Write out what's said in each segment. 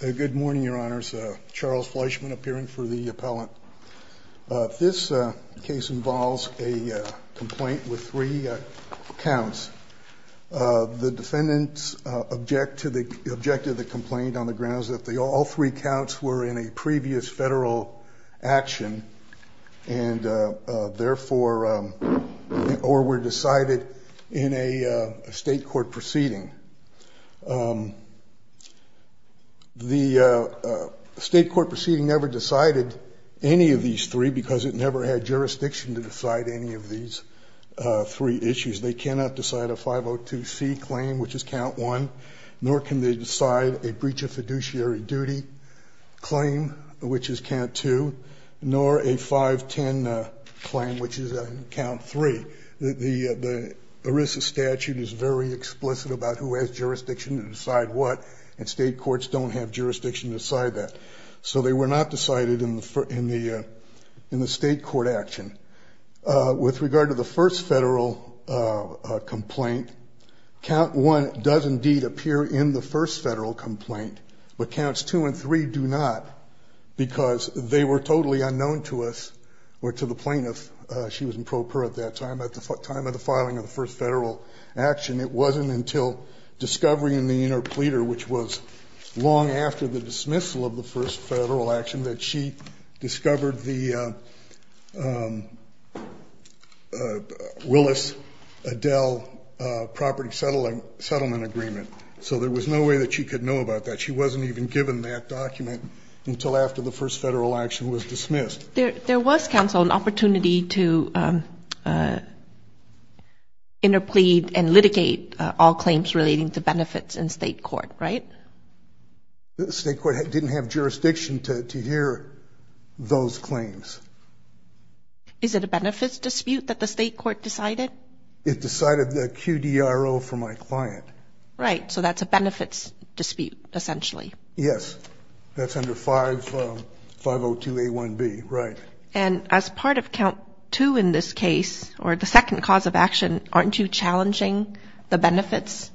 Good morning, your honors. Charles Fleischman appearing for the appellant. This case involves a complaint with three counts. The defendants object to the object of the complaint on the grounds that all three counts were in a previous federal action and therefore or were decided in a state court proceeding. The state court proceeding never decided any of these three because it never had jurisdiction to decide any of these three issues. They cannot decide a 502c claim, which is count one, nor can they decide a breach of fiduciary duty claim, which is count two, nor a 510 claim, which is count three. The ERISA statute is very explicit about who has jurisdiction to decide what, and state courts don't have jurisdiction to decide that. So they were not decided in the state court action. With regard to the first federal complaint, count one does indeed appear in the first federal complaint, but counts two and three do not because they were totally unknown to us or to the plaintiff. She was in pro per at that time. At the time of the filing of the first federal action, it wasn't until discovery in the inner pleater, which was long after the dismissal of the first federal action, that she discovered the Willis-Adele property settlement agreement. So there was no way that she could know about that. She wasn't even given that document until after the first federal action was dismissed. There was, counsel, an opportunity to interplead and litigate all claims relating to benefits in state court, right? The state court didn't have jurisdiction to hear those claims. Is it a benefits dispute that the state court decided? It decided the QDRO for my client. Right, so that's a benefits dispute, essentially. Yes, that's under 502A1B, right. And as part of count two in this case, or the second cause of action, aren't you challenging the benefits?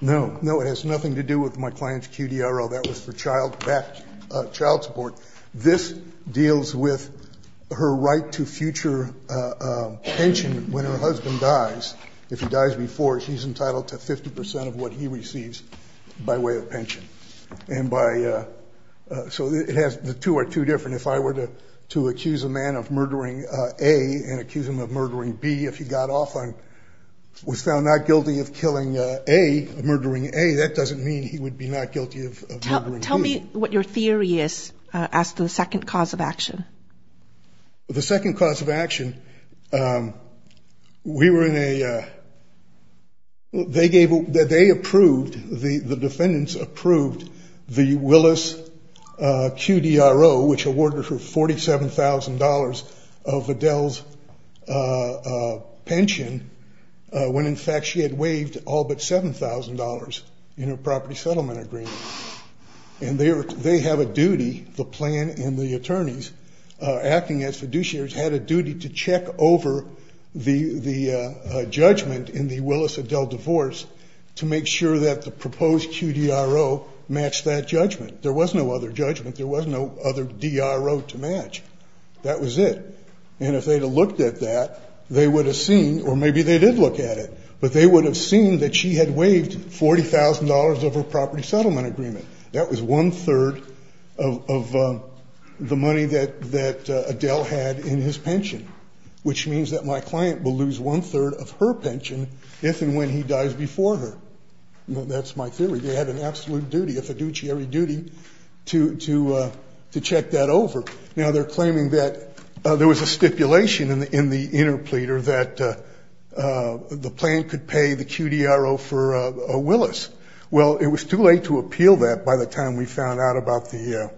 No, no, it has nothing to do with my client's QDRO. That was for child support. This deals with her right to future pension when her husband dies. If he dies before, she's entitled to 50% of what he receives by way of pension. And by, so the two are two different. If I were to accuse a man of murdering A and accuse him of murdering B, if he got off on, was found not guilty of killing A, murdering A, that doesn't mean he would be not guilty of murdering B. Tell me what your theory is as to the second cause of action. The second cause of action, we were in a, they approved, the defendants approved the Willis QDRO, which awarded her $47,000 of Adele's pension, when in fact she had waived all but $7,000 in her property settlement agreement. And they have a duty, the plan and the attorneys, acting as fiduciaries, had a duty to check over the judgment in the Willis-Adele divorce to make sure that the proposed QDRO matched that judgment. There was no other judgment. There was no other DRO to match. That was it. And if they had looked at that, they would have seen, or maybe they did look at it, but they would have seen that she had waived $40,000 of her property settlement agreement. That was one-third of the money that Adele had in his pension, which means that my client will lose one-third of her pension if and when he dies before her. That's my theory. They had an absolute duty, a fiduciary duty, to check that over. Now, they're claiming that there was a stipulation in the interpleader that the plan could pay the QDRO for Willis. Well, it was too late to appeal that by the time we found out about the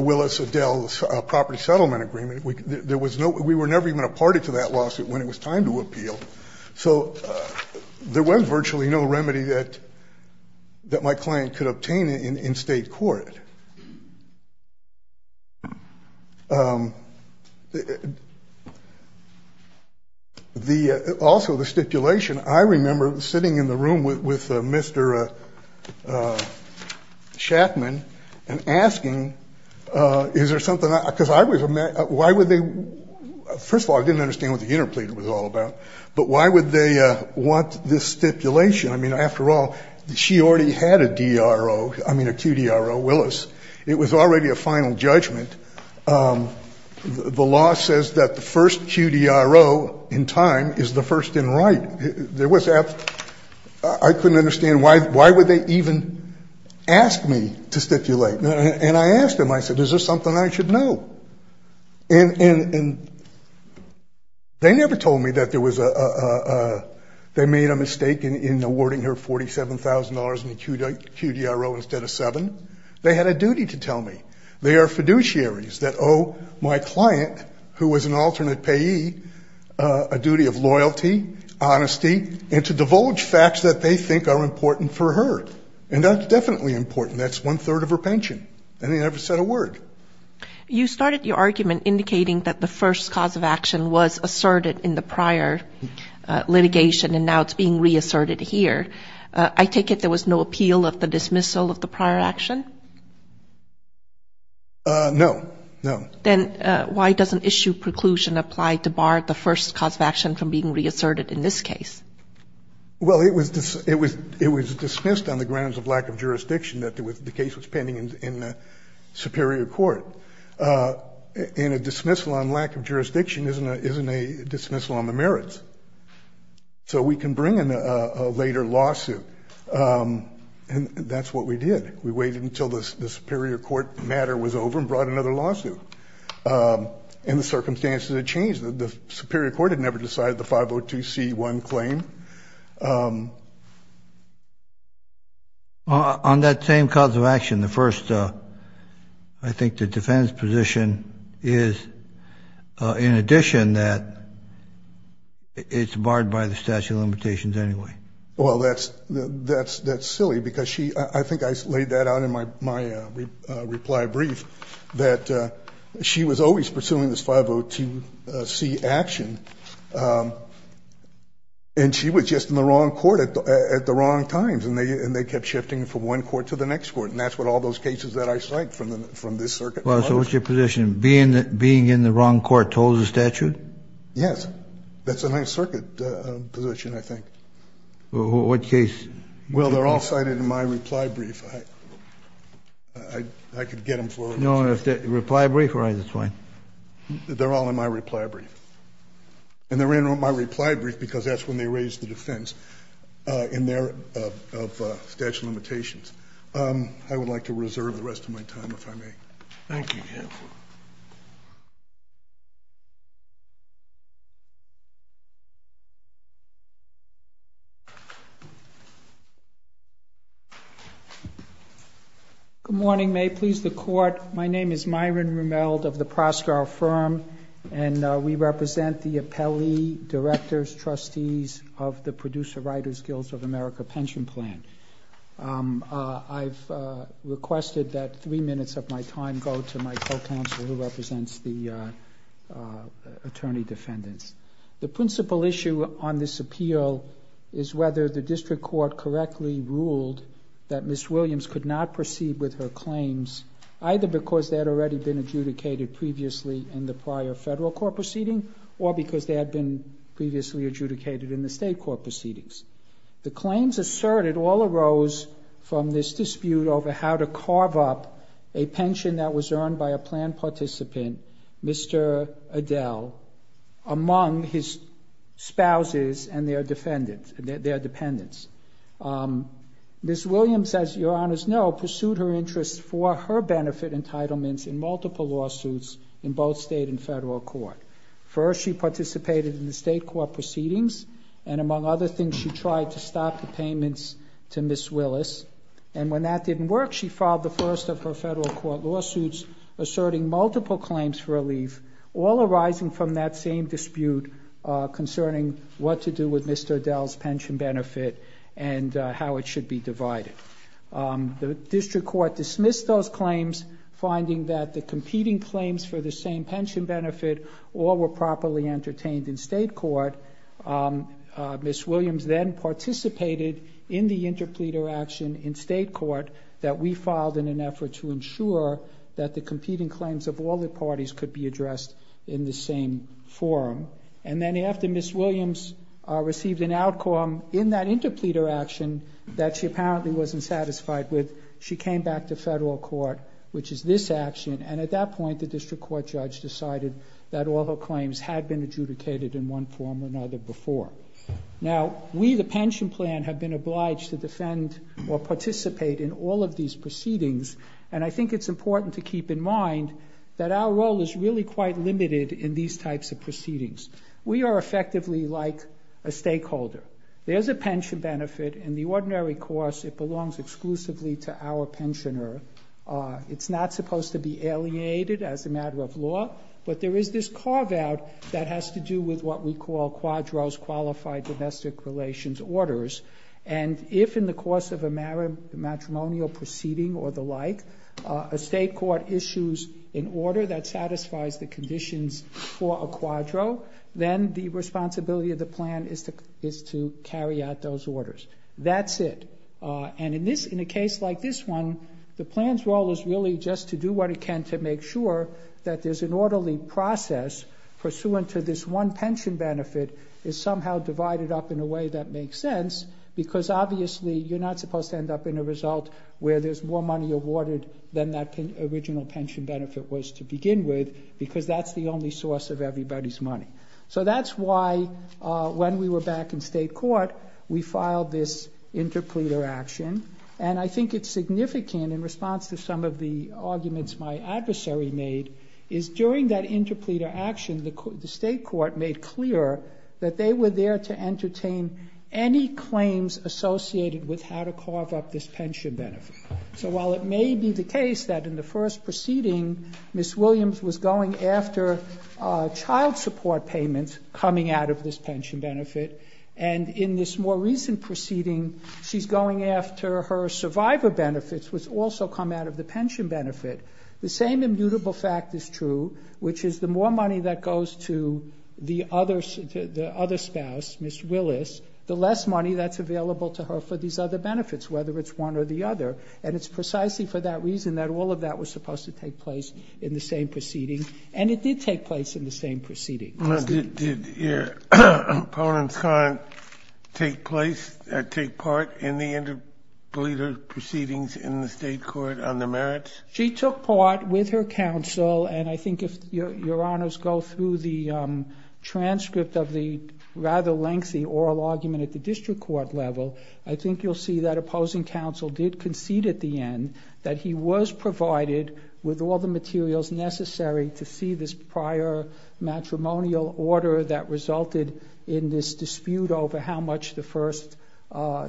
Willis-Adele property settlement agreement. We were never even a party to that lawsuit when it was time to appeal. So there was virtually no remedy that my client could obtain in state court. Also, the stipulation, I remember sitting in the room with Mr. Shackman and asking, is there something, because I was, why would they, first of all, I didn't understand what the interpleader was all about, but why would they want this stipulation? I mean, after all, she already had a DRO, I mean, a QDRO, Willis. It was already a final judgment. The law says that the first QDRO in time is the first in right. I couldn't understand why would they even ask me to stipulate? And I asked them, I said, is there something I should know? And they never told me that there was a, they made a mistake in awarding her $47,000 in the QDRO instead of seven. They had a duty to tell me. They are fiduciaries that owe my client, who was an alternate payee, a duty of loyalty, honesty, and to divulge facts that they think are important for her. And that's definitely important. That's one-third of her pension. And they never said a word. You started your argument indicating that the first cause of action was asserted in the prior litigation, and now it's being reasserted here. I take it there was no appeal of the dismissal of the prior action? No. No. Then why doesn't issue preclusion apply to bar the first cause of action from being reasserted in this case? Well, it was dismissed on the grounds of lack of jurisdiction that the case was pending in the superior court. And a dismissal on lack of jurisdiction isn't a dismissal on the merits. So we can bring in a later lawsuit. And that's what we did. We waited until the superior court matter was over and brought another lawsuit. And the circumstances had changed. The superior court had never decided the 502C1 claim. On that same cause of action, the first, I think, the defendant's position is, in addition, that it's barred by the statute of limitations anyway. Well, that's silly, because I think I laid that out in my reply brief, that she was always pursuing this 502C action. And she was just in the wrong court at the wrong times. And they kept shifting from one court to the next court. And that's what all those cases that I cite from this circuit were. So what's your position? Being in the wrong court told the statute? Yes. That's a Ninth Circuit position, I think. Well, what case? Well, they're all cited in my reply brief. I could get them for you. Reply brief? All right, that's fine. They're all in my reply brief. And they're in my reply brief, because that's when they raised the defense in there of statute of limitations. I would like to reserve the rest of my time, if I may. Thank you. Good morning. May it please the Court. My name is Myron Rumeld of the Proscar Firm. And we represent the appellee directors, trustees, of the Producer Writers Guilds of America Pension Plan. I've requested that three minutes of my time go to my co-counsel, who represents the attorney defendants. The principal issue on this appeal is whether the district court correctly ruled that Ms. Williams could not proceed with her claims, either because they had already been adjudicated previously in the prior federal court proceeding, or because they had been previously adjudicated in the state court proceedings. The claims asserted all arose from this dispute over how to carve up a pension that was earned by a plan participant, Mr. Adel, among his spouses and their dependents. Ms. Williams, as your honors know, pursued her interests for her benefit entitlements in multiple lawsuits in both state and federal court. First, she participated in the state court proceedings, and among other things, she tried to stop the payments to Ms. Willis. And when that didn't work, she filed the first of her federal court lawsuits asserting multiple claims for relief, all arising from that same dispute concerning what to do with Mr. Adel's pension benefit and how it should be divided. The district court dismissed those claims, finding that the competing claims for the same pension benefit all were properly entertained in state court. Ms. Williams then participated in the interpleader action in state court that we filed in an effort to ensure that the competing claims of all the parties could be addressed in the same forum. And then after Ms. Williams received an outcome in that interpleader action that she apparently wasn't satisfied with, she came back to federal court, which is this action, and at that point the district court judge decided that all her claims had been adjudicated in one form or another before. Now, we, the pension plan, have been obliged to defend or participate in all of these proceedings, and I think it's important to keep in mind that our role is really quite limited in these types of proceedings. We are effectively like a stakeholder. There's a pension benefit, in the ordinary course it belongs exclusively to our pensioner. It's not supposed to be alienated as a matter of law, but there is this carve-out that has to do with what we call quadros, qualified domestic relations orders, and if in the course of a matrimonial proceeding or the like, a state court issues an order that satisfies the conditions for a quadro, then the responsibility of the plan is to carry out those orders. That's it, and in a case like this one, the plan's role is really just to do what it can to make sure that there's an orderly process pursuant to this one pension benefit is somehow divided up in a way that makes sense, because obviously you're not supposed to end up in a result where there's more money awarded than that original pension benefit was to begin with, because that's the only source of everybody's money. So that's why, when we were back in state court, we filed this interpleader action, and I think it's significant in response to some of the arguments my adversary made, is during that interpleader action, the state court made clear that they were there to entertain any claims associated with how to carve up this pension benefit. So while it may be the case that in the first proceeding, Ms. Williams was going after child support payments coming out of this pension benefit, and in this more recent proceeding, she's going after her survivor benefits, which also come out of the pension benefit, the same immutable fact is true, which is the more money that goes to the other spouse, Ms. Willis, the less money that's available to her for these other benefits, whether it's one or the other, and it's precisely for that reason that all of that was supposed to take place in the same proceeding, and it did take place in the same proceeding. Did Your Honor's client take part in the interpleader proceedings in the state court on the merits? She took part with her counsel, and I think if Your Honors go through the transcript of the rather lengthy oral argument at the district court level, I think you'll see that opposing counsel did concede at the end that he was provided with all the materials necessary to see this prior matrimonial order that resulted in this dispute over how much the first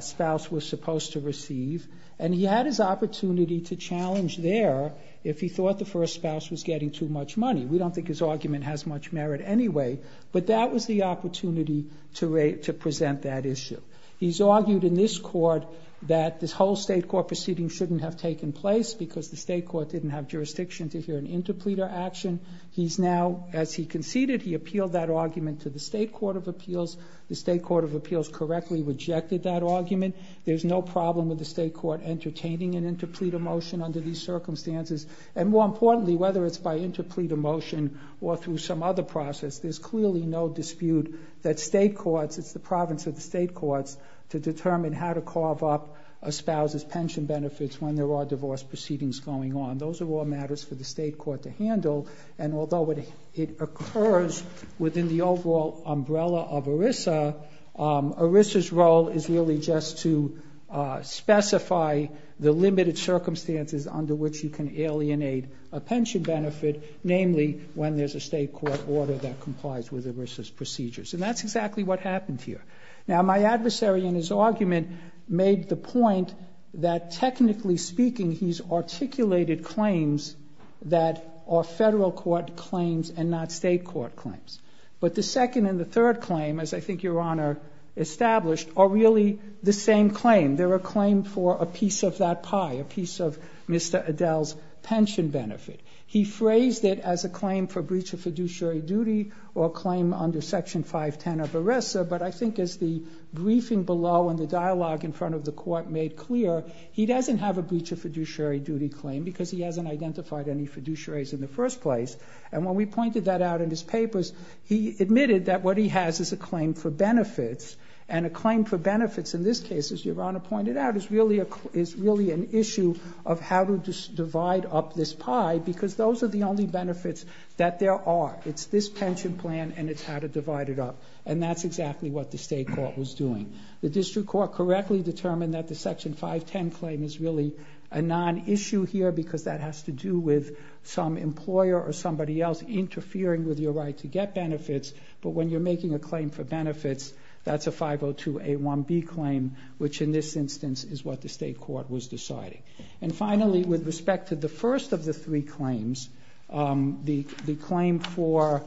spouse was supposed to receive, and he had his opportunity to challenge there if he thought the first spouse was getting too much money. We don't think his argument has much merit anyway, but that was the opportunity to present that issue. He's argued in this court that this whole state court proceeding shouldn't have taken place because the state court didn't have jurisdiction to hear an interpleader action. He's now, as he conceded, he appealed that argument to the state court of appeals. The state court of appeals correctly rejected that argument. There's no problem with the state court entertaining an interpleader motion under these circumstances, and more importantly, whether it's by interpleader motion or through some other process, there's clearly no dispute that state courts, it's the province of the state courts to determine how to carve up a spouse's pension benefits when there are divorce proceedings going on. Those are all matters for the state court to handle, and although it occurs within the overall umbrella of ERISA, ERISA's role is really just to specify the limited circumstances under which you can alienate a pension benefit, namely when there's a state court order that complies with ERISA's procedures. And that's exactly what happened here. Now, my adversary in his argument made the point that technically speaking, he's articulated claims that are federal court claims and not state court claims. But the second and the third claim, as I think Your Honour established, are really the same claim. They're a claim for a piece of that pie, a piece of Mr. Adele's pension benefit. He phrased it as a claim for breach of fiduciary duty or a claim under Section 510 of ERISA, but I think as the briefing below and the dialogue in front of the court made clear, he doesn't have a breach of fiduciary duty claim because he hasn't identified any fiduciaries in the first place. And when we pointed that out in his papers, he admitted that what he has is a claim for benefits, and a claim for benefits in this case, as Your Honour pointed out, is really an issue of how to divide up this pie because those are the only benefits that there are. It's this pension plan and it's how to divide it up. And that's exactly what the state court was doing. The district court correctly determined that the Section 510 claim is really a non-issue here because that has to do with some employer or somebody else but when you're making a claim for benefits, that's a 502A1B claim, which in this instance is what the state court was deciding. And finally, with respect to the first of the three claims, the claim for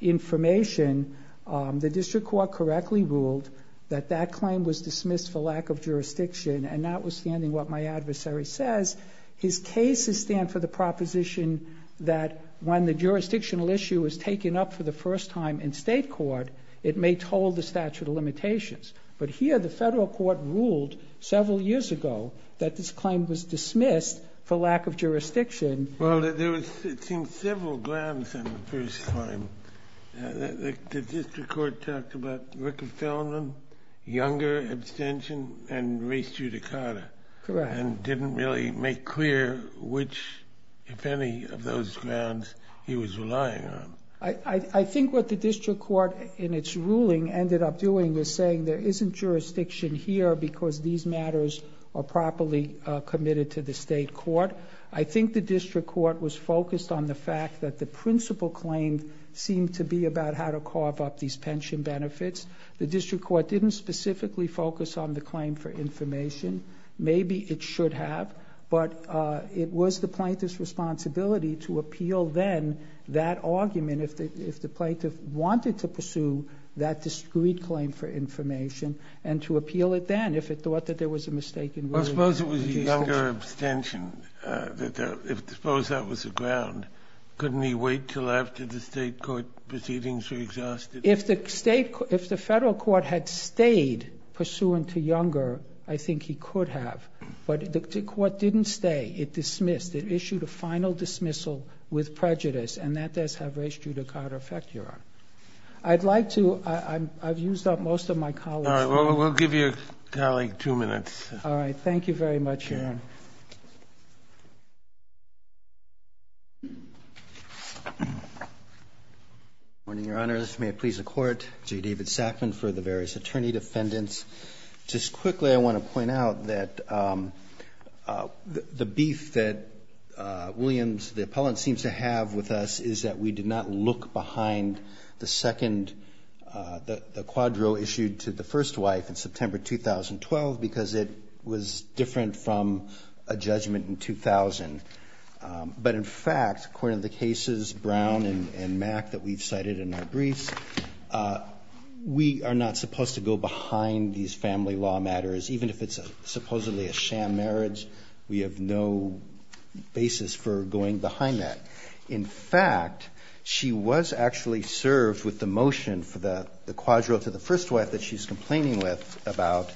information, the district court correctly ruled that that claim was dismissed for lack of jurisdiction and notwithstanding what my adversary says, his cases stand for the proposition that when the jurisdictional issue is taken up for the first time in state court, it may toll the statute of limitations. But here the federal court ruled several years ago that this claim was dismissed for lack of jurisdiction. Well, there was, it seems, several grounds in the first claim. The district court talked about Ricker-Fellman, younger abstention, and race judicata. Correct. And didn't really make clear which, if any, of those grounds he was relying on. I think what the district court in its ruling ended up doing was saying there isn't jurisdiction here because these matters are properly committed to the state court. I think the district court was focused on the fact that the principal claim seemed to be about how to carve up these pension benefits. The district court didn't specifically focus on the claim for information. Maybe it should have, but it was the plaintiff's responsibility to appeal then that argument if the plaintiff wanted to pursue that discrete claim for information and to appeal it then if it thought that there was a mistake in ruling. I suppose it was a younger abstention. I suppose that was the ground. Couldn't he wait till after the state court proceedings were exhausted? If the federal court had stayed pursuant to younger, I think he could have. But the court didn't stay. It dismissed. It issued a final dismissal with prejudice and that does have race, judicata effect, Your Honor. I'd like to... I've used up most of my colleague's time. All right. We'll give your colleague two minutes. All right. Thank you very much, Your Honor. Good morning, Your Honors. May it please the Court. J. David Sackman for the various attorney defendants. Just quickly, I want to point out that the beef that Williams, the appellant, seems to have with us is that we did not look behind the second... the quadro issued to the first wife in September 2012 because it was different from a judgment in 2000. But in fact, according to the cases, Brown and Mack that we've cited in our briefs, we are not supposed to go behind these family law matters even if it's supposedly a sham marriage. We have no basis for going behind that. In fact, she was actually served with the motion for the quadro to the first wife that she's complaining with about.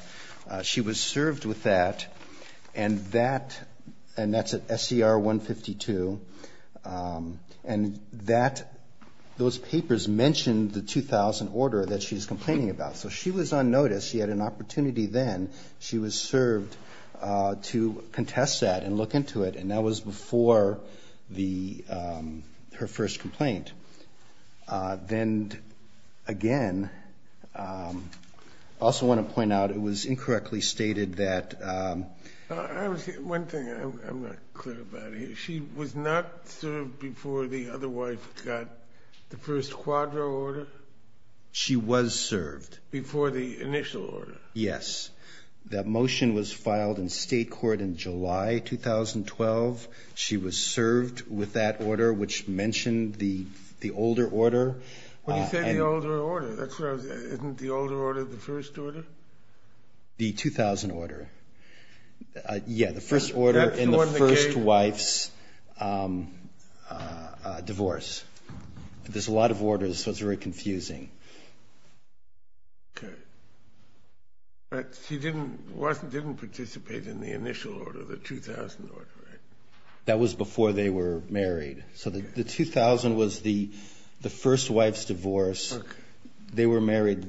She was served with that and that... and that's at SCR 152. And that... those papers mentioned the 2000 order that she's complaining about. So she was on notice. She had an opportunity then. She was served to contest that and look into it. And that was before the... her first complaint. Then again, I also want to point out it was incorrectly stated that... One thing I'm not clear about here. She was not served before the other wife got the first quadro order? She was served. Before the initial order? Yes. That motion was filed in state court in July 2012. She was served with that order which mentioned the older order. When you say the older order, isn't the older order the first order? The 2000 order. Yeah, the first order in the first wife's divorce. There's a lot of orders so it's very confusing. Okay. But she didn't... wasn't... didn't participate in the initial order, the 2000 order, right? That was before they were married. So the 2000 was the first wife's divorce. Okay. They were married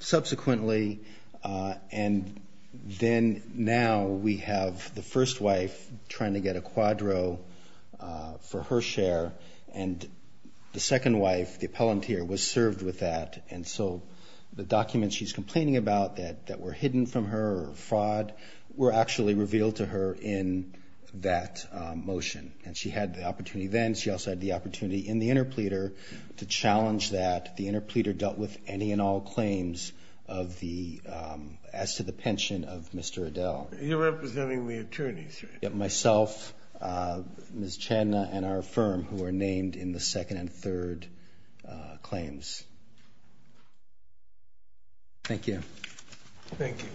subsequently and then now we have the first wife trying to get a quadro for her share and the second wife, the appellant here, was served with that and so the documents she's complaining about that were hidden from her or fraud were actually revealed to her in that motion and she had the opportunity then. She also had the opportunity in the interpleader to challenge that the interpleader dealt with any and all claims of the... as to the pension of Mr. Adele. You're representing the attorneys, right? Myself, Ms. Chadna, and our firm who are named in the second and third claims. Thank you. Thank you.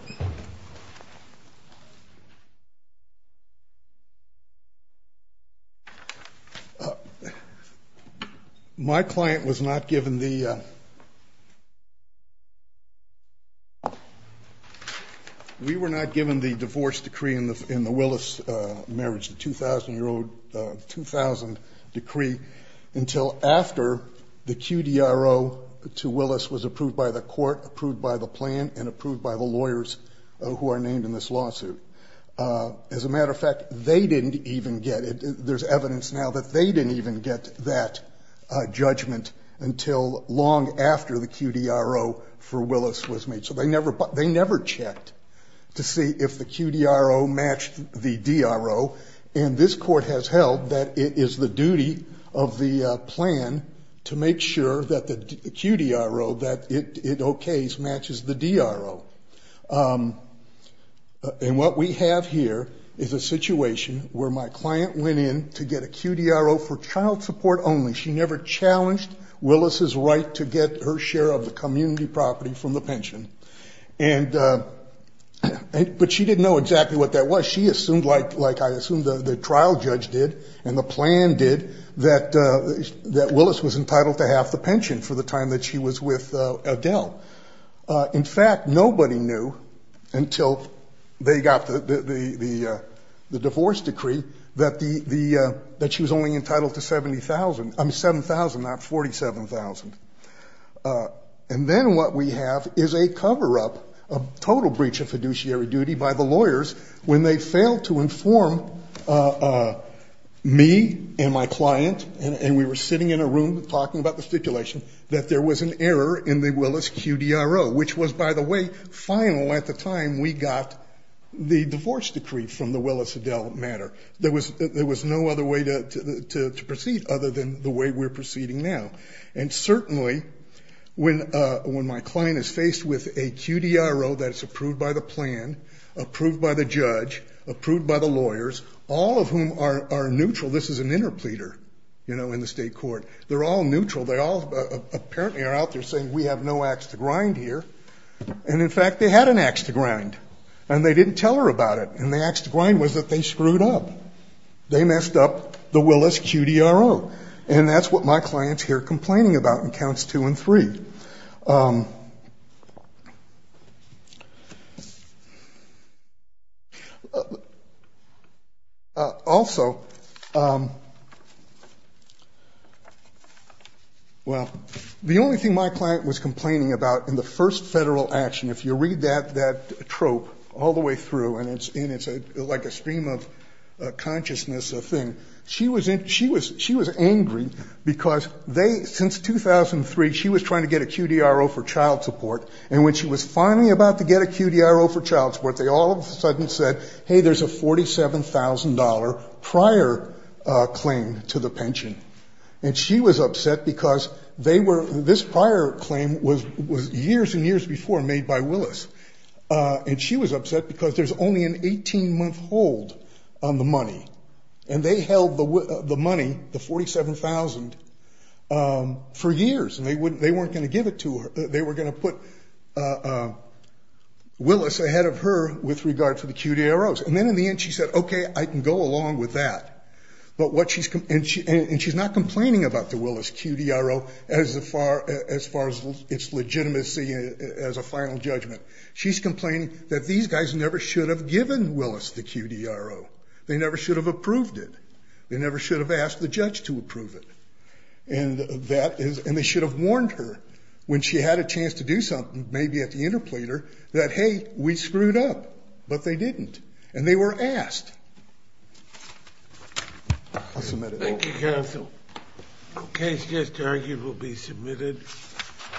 My client was not given the... We were not given the divorce decree in the Willis marriage, the 2000 decree, until after the QDRO to Willis was approved by the court, approved by the plan, and approved by the lawyers who are named in this lawsuit. As a matter of fact, they didn't even get it. There's evidence now that they didn't even get that judgment until long after the QDRO for Willis was made. So they never checked to see if the QDRO matched the DRO and this court has held that it is the duty of the plan to make sure that the QDRO, that it okays, matches the DRO. And what we have here is a situation where my client went in to get a QDRO for child support only. She never challenged Willis' right to get her share of the community property from the pension. But she didn't know exactly what that was. She assumed, like I assumed the trial judge did and the plan did, that Willis was entitled to half the pension for the time that she was with Adele. In fact, nobody knew until they got the divorce decree that she was only entitled to $7,000, not $47,000. And then what we have is a cover-up, a total breach of fiduciary duty by the lawyers when they failed to inform me and my client and we were sitting in a room talking about the stipulation that there was an error in the Willis QDRO, which was, by the way, final at the time we got the divorce decree from the Willis-Adele matter. There was no other way to proceed other than the way we're proceeding now. And certainly, when my client is faced with a QDRO that is approved by the plan, approved by the judge, approved by the lawyers, all of whom are neutral. This is an interpleader in the state court. They're all neutral. They all apparently are out there saying we have no axe to grind here. And in fact, they had an axe to grind and they didn't tell her about it. And the axe to grind was that they screwed up. They messed up the Willis QDRO. And that's what my client's here complaining about in counts two and three. Also, well, the only thing my client was complaining about in the first federal action, if you read that trope all the way through and it's like a stream of consciousness, to get a QDRO approved by the state court and she was trying to get a QDRO approved by the state court to get a QDRO for child support and when she was finally about to get a QDRO for child support they all of a sudden said, hey, there's a $47,000 prior claim to the pension. And she was upset because they were, this prior claim was years and years before made by Willis. And she was upset because there's only an 18-month hold on the money. And they held the money, the $47,000 for years and they weren't going to give it to her. They were going to put Willis ahead of her with regard to the QDROs. And then in the end she said, okay, I can go along with that. And she's not complaining about the Willis QDRO as far as its legitimacy as a final judgment. She's complaining that these guys never should have given Willis the QDRO. They never should have approved it. They never should have asked the judge to approve it. And they should have warned her when she had a chance to do something maybe at the interpleader that, hey, we screwed up. But they didn't. And they were asked. I'll submit it. Thank you, counsel. The case just argued will be submitted.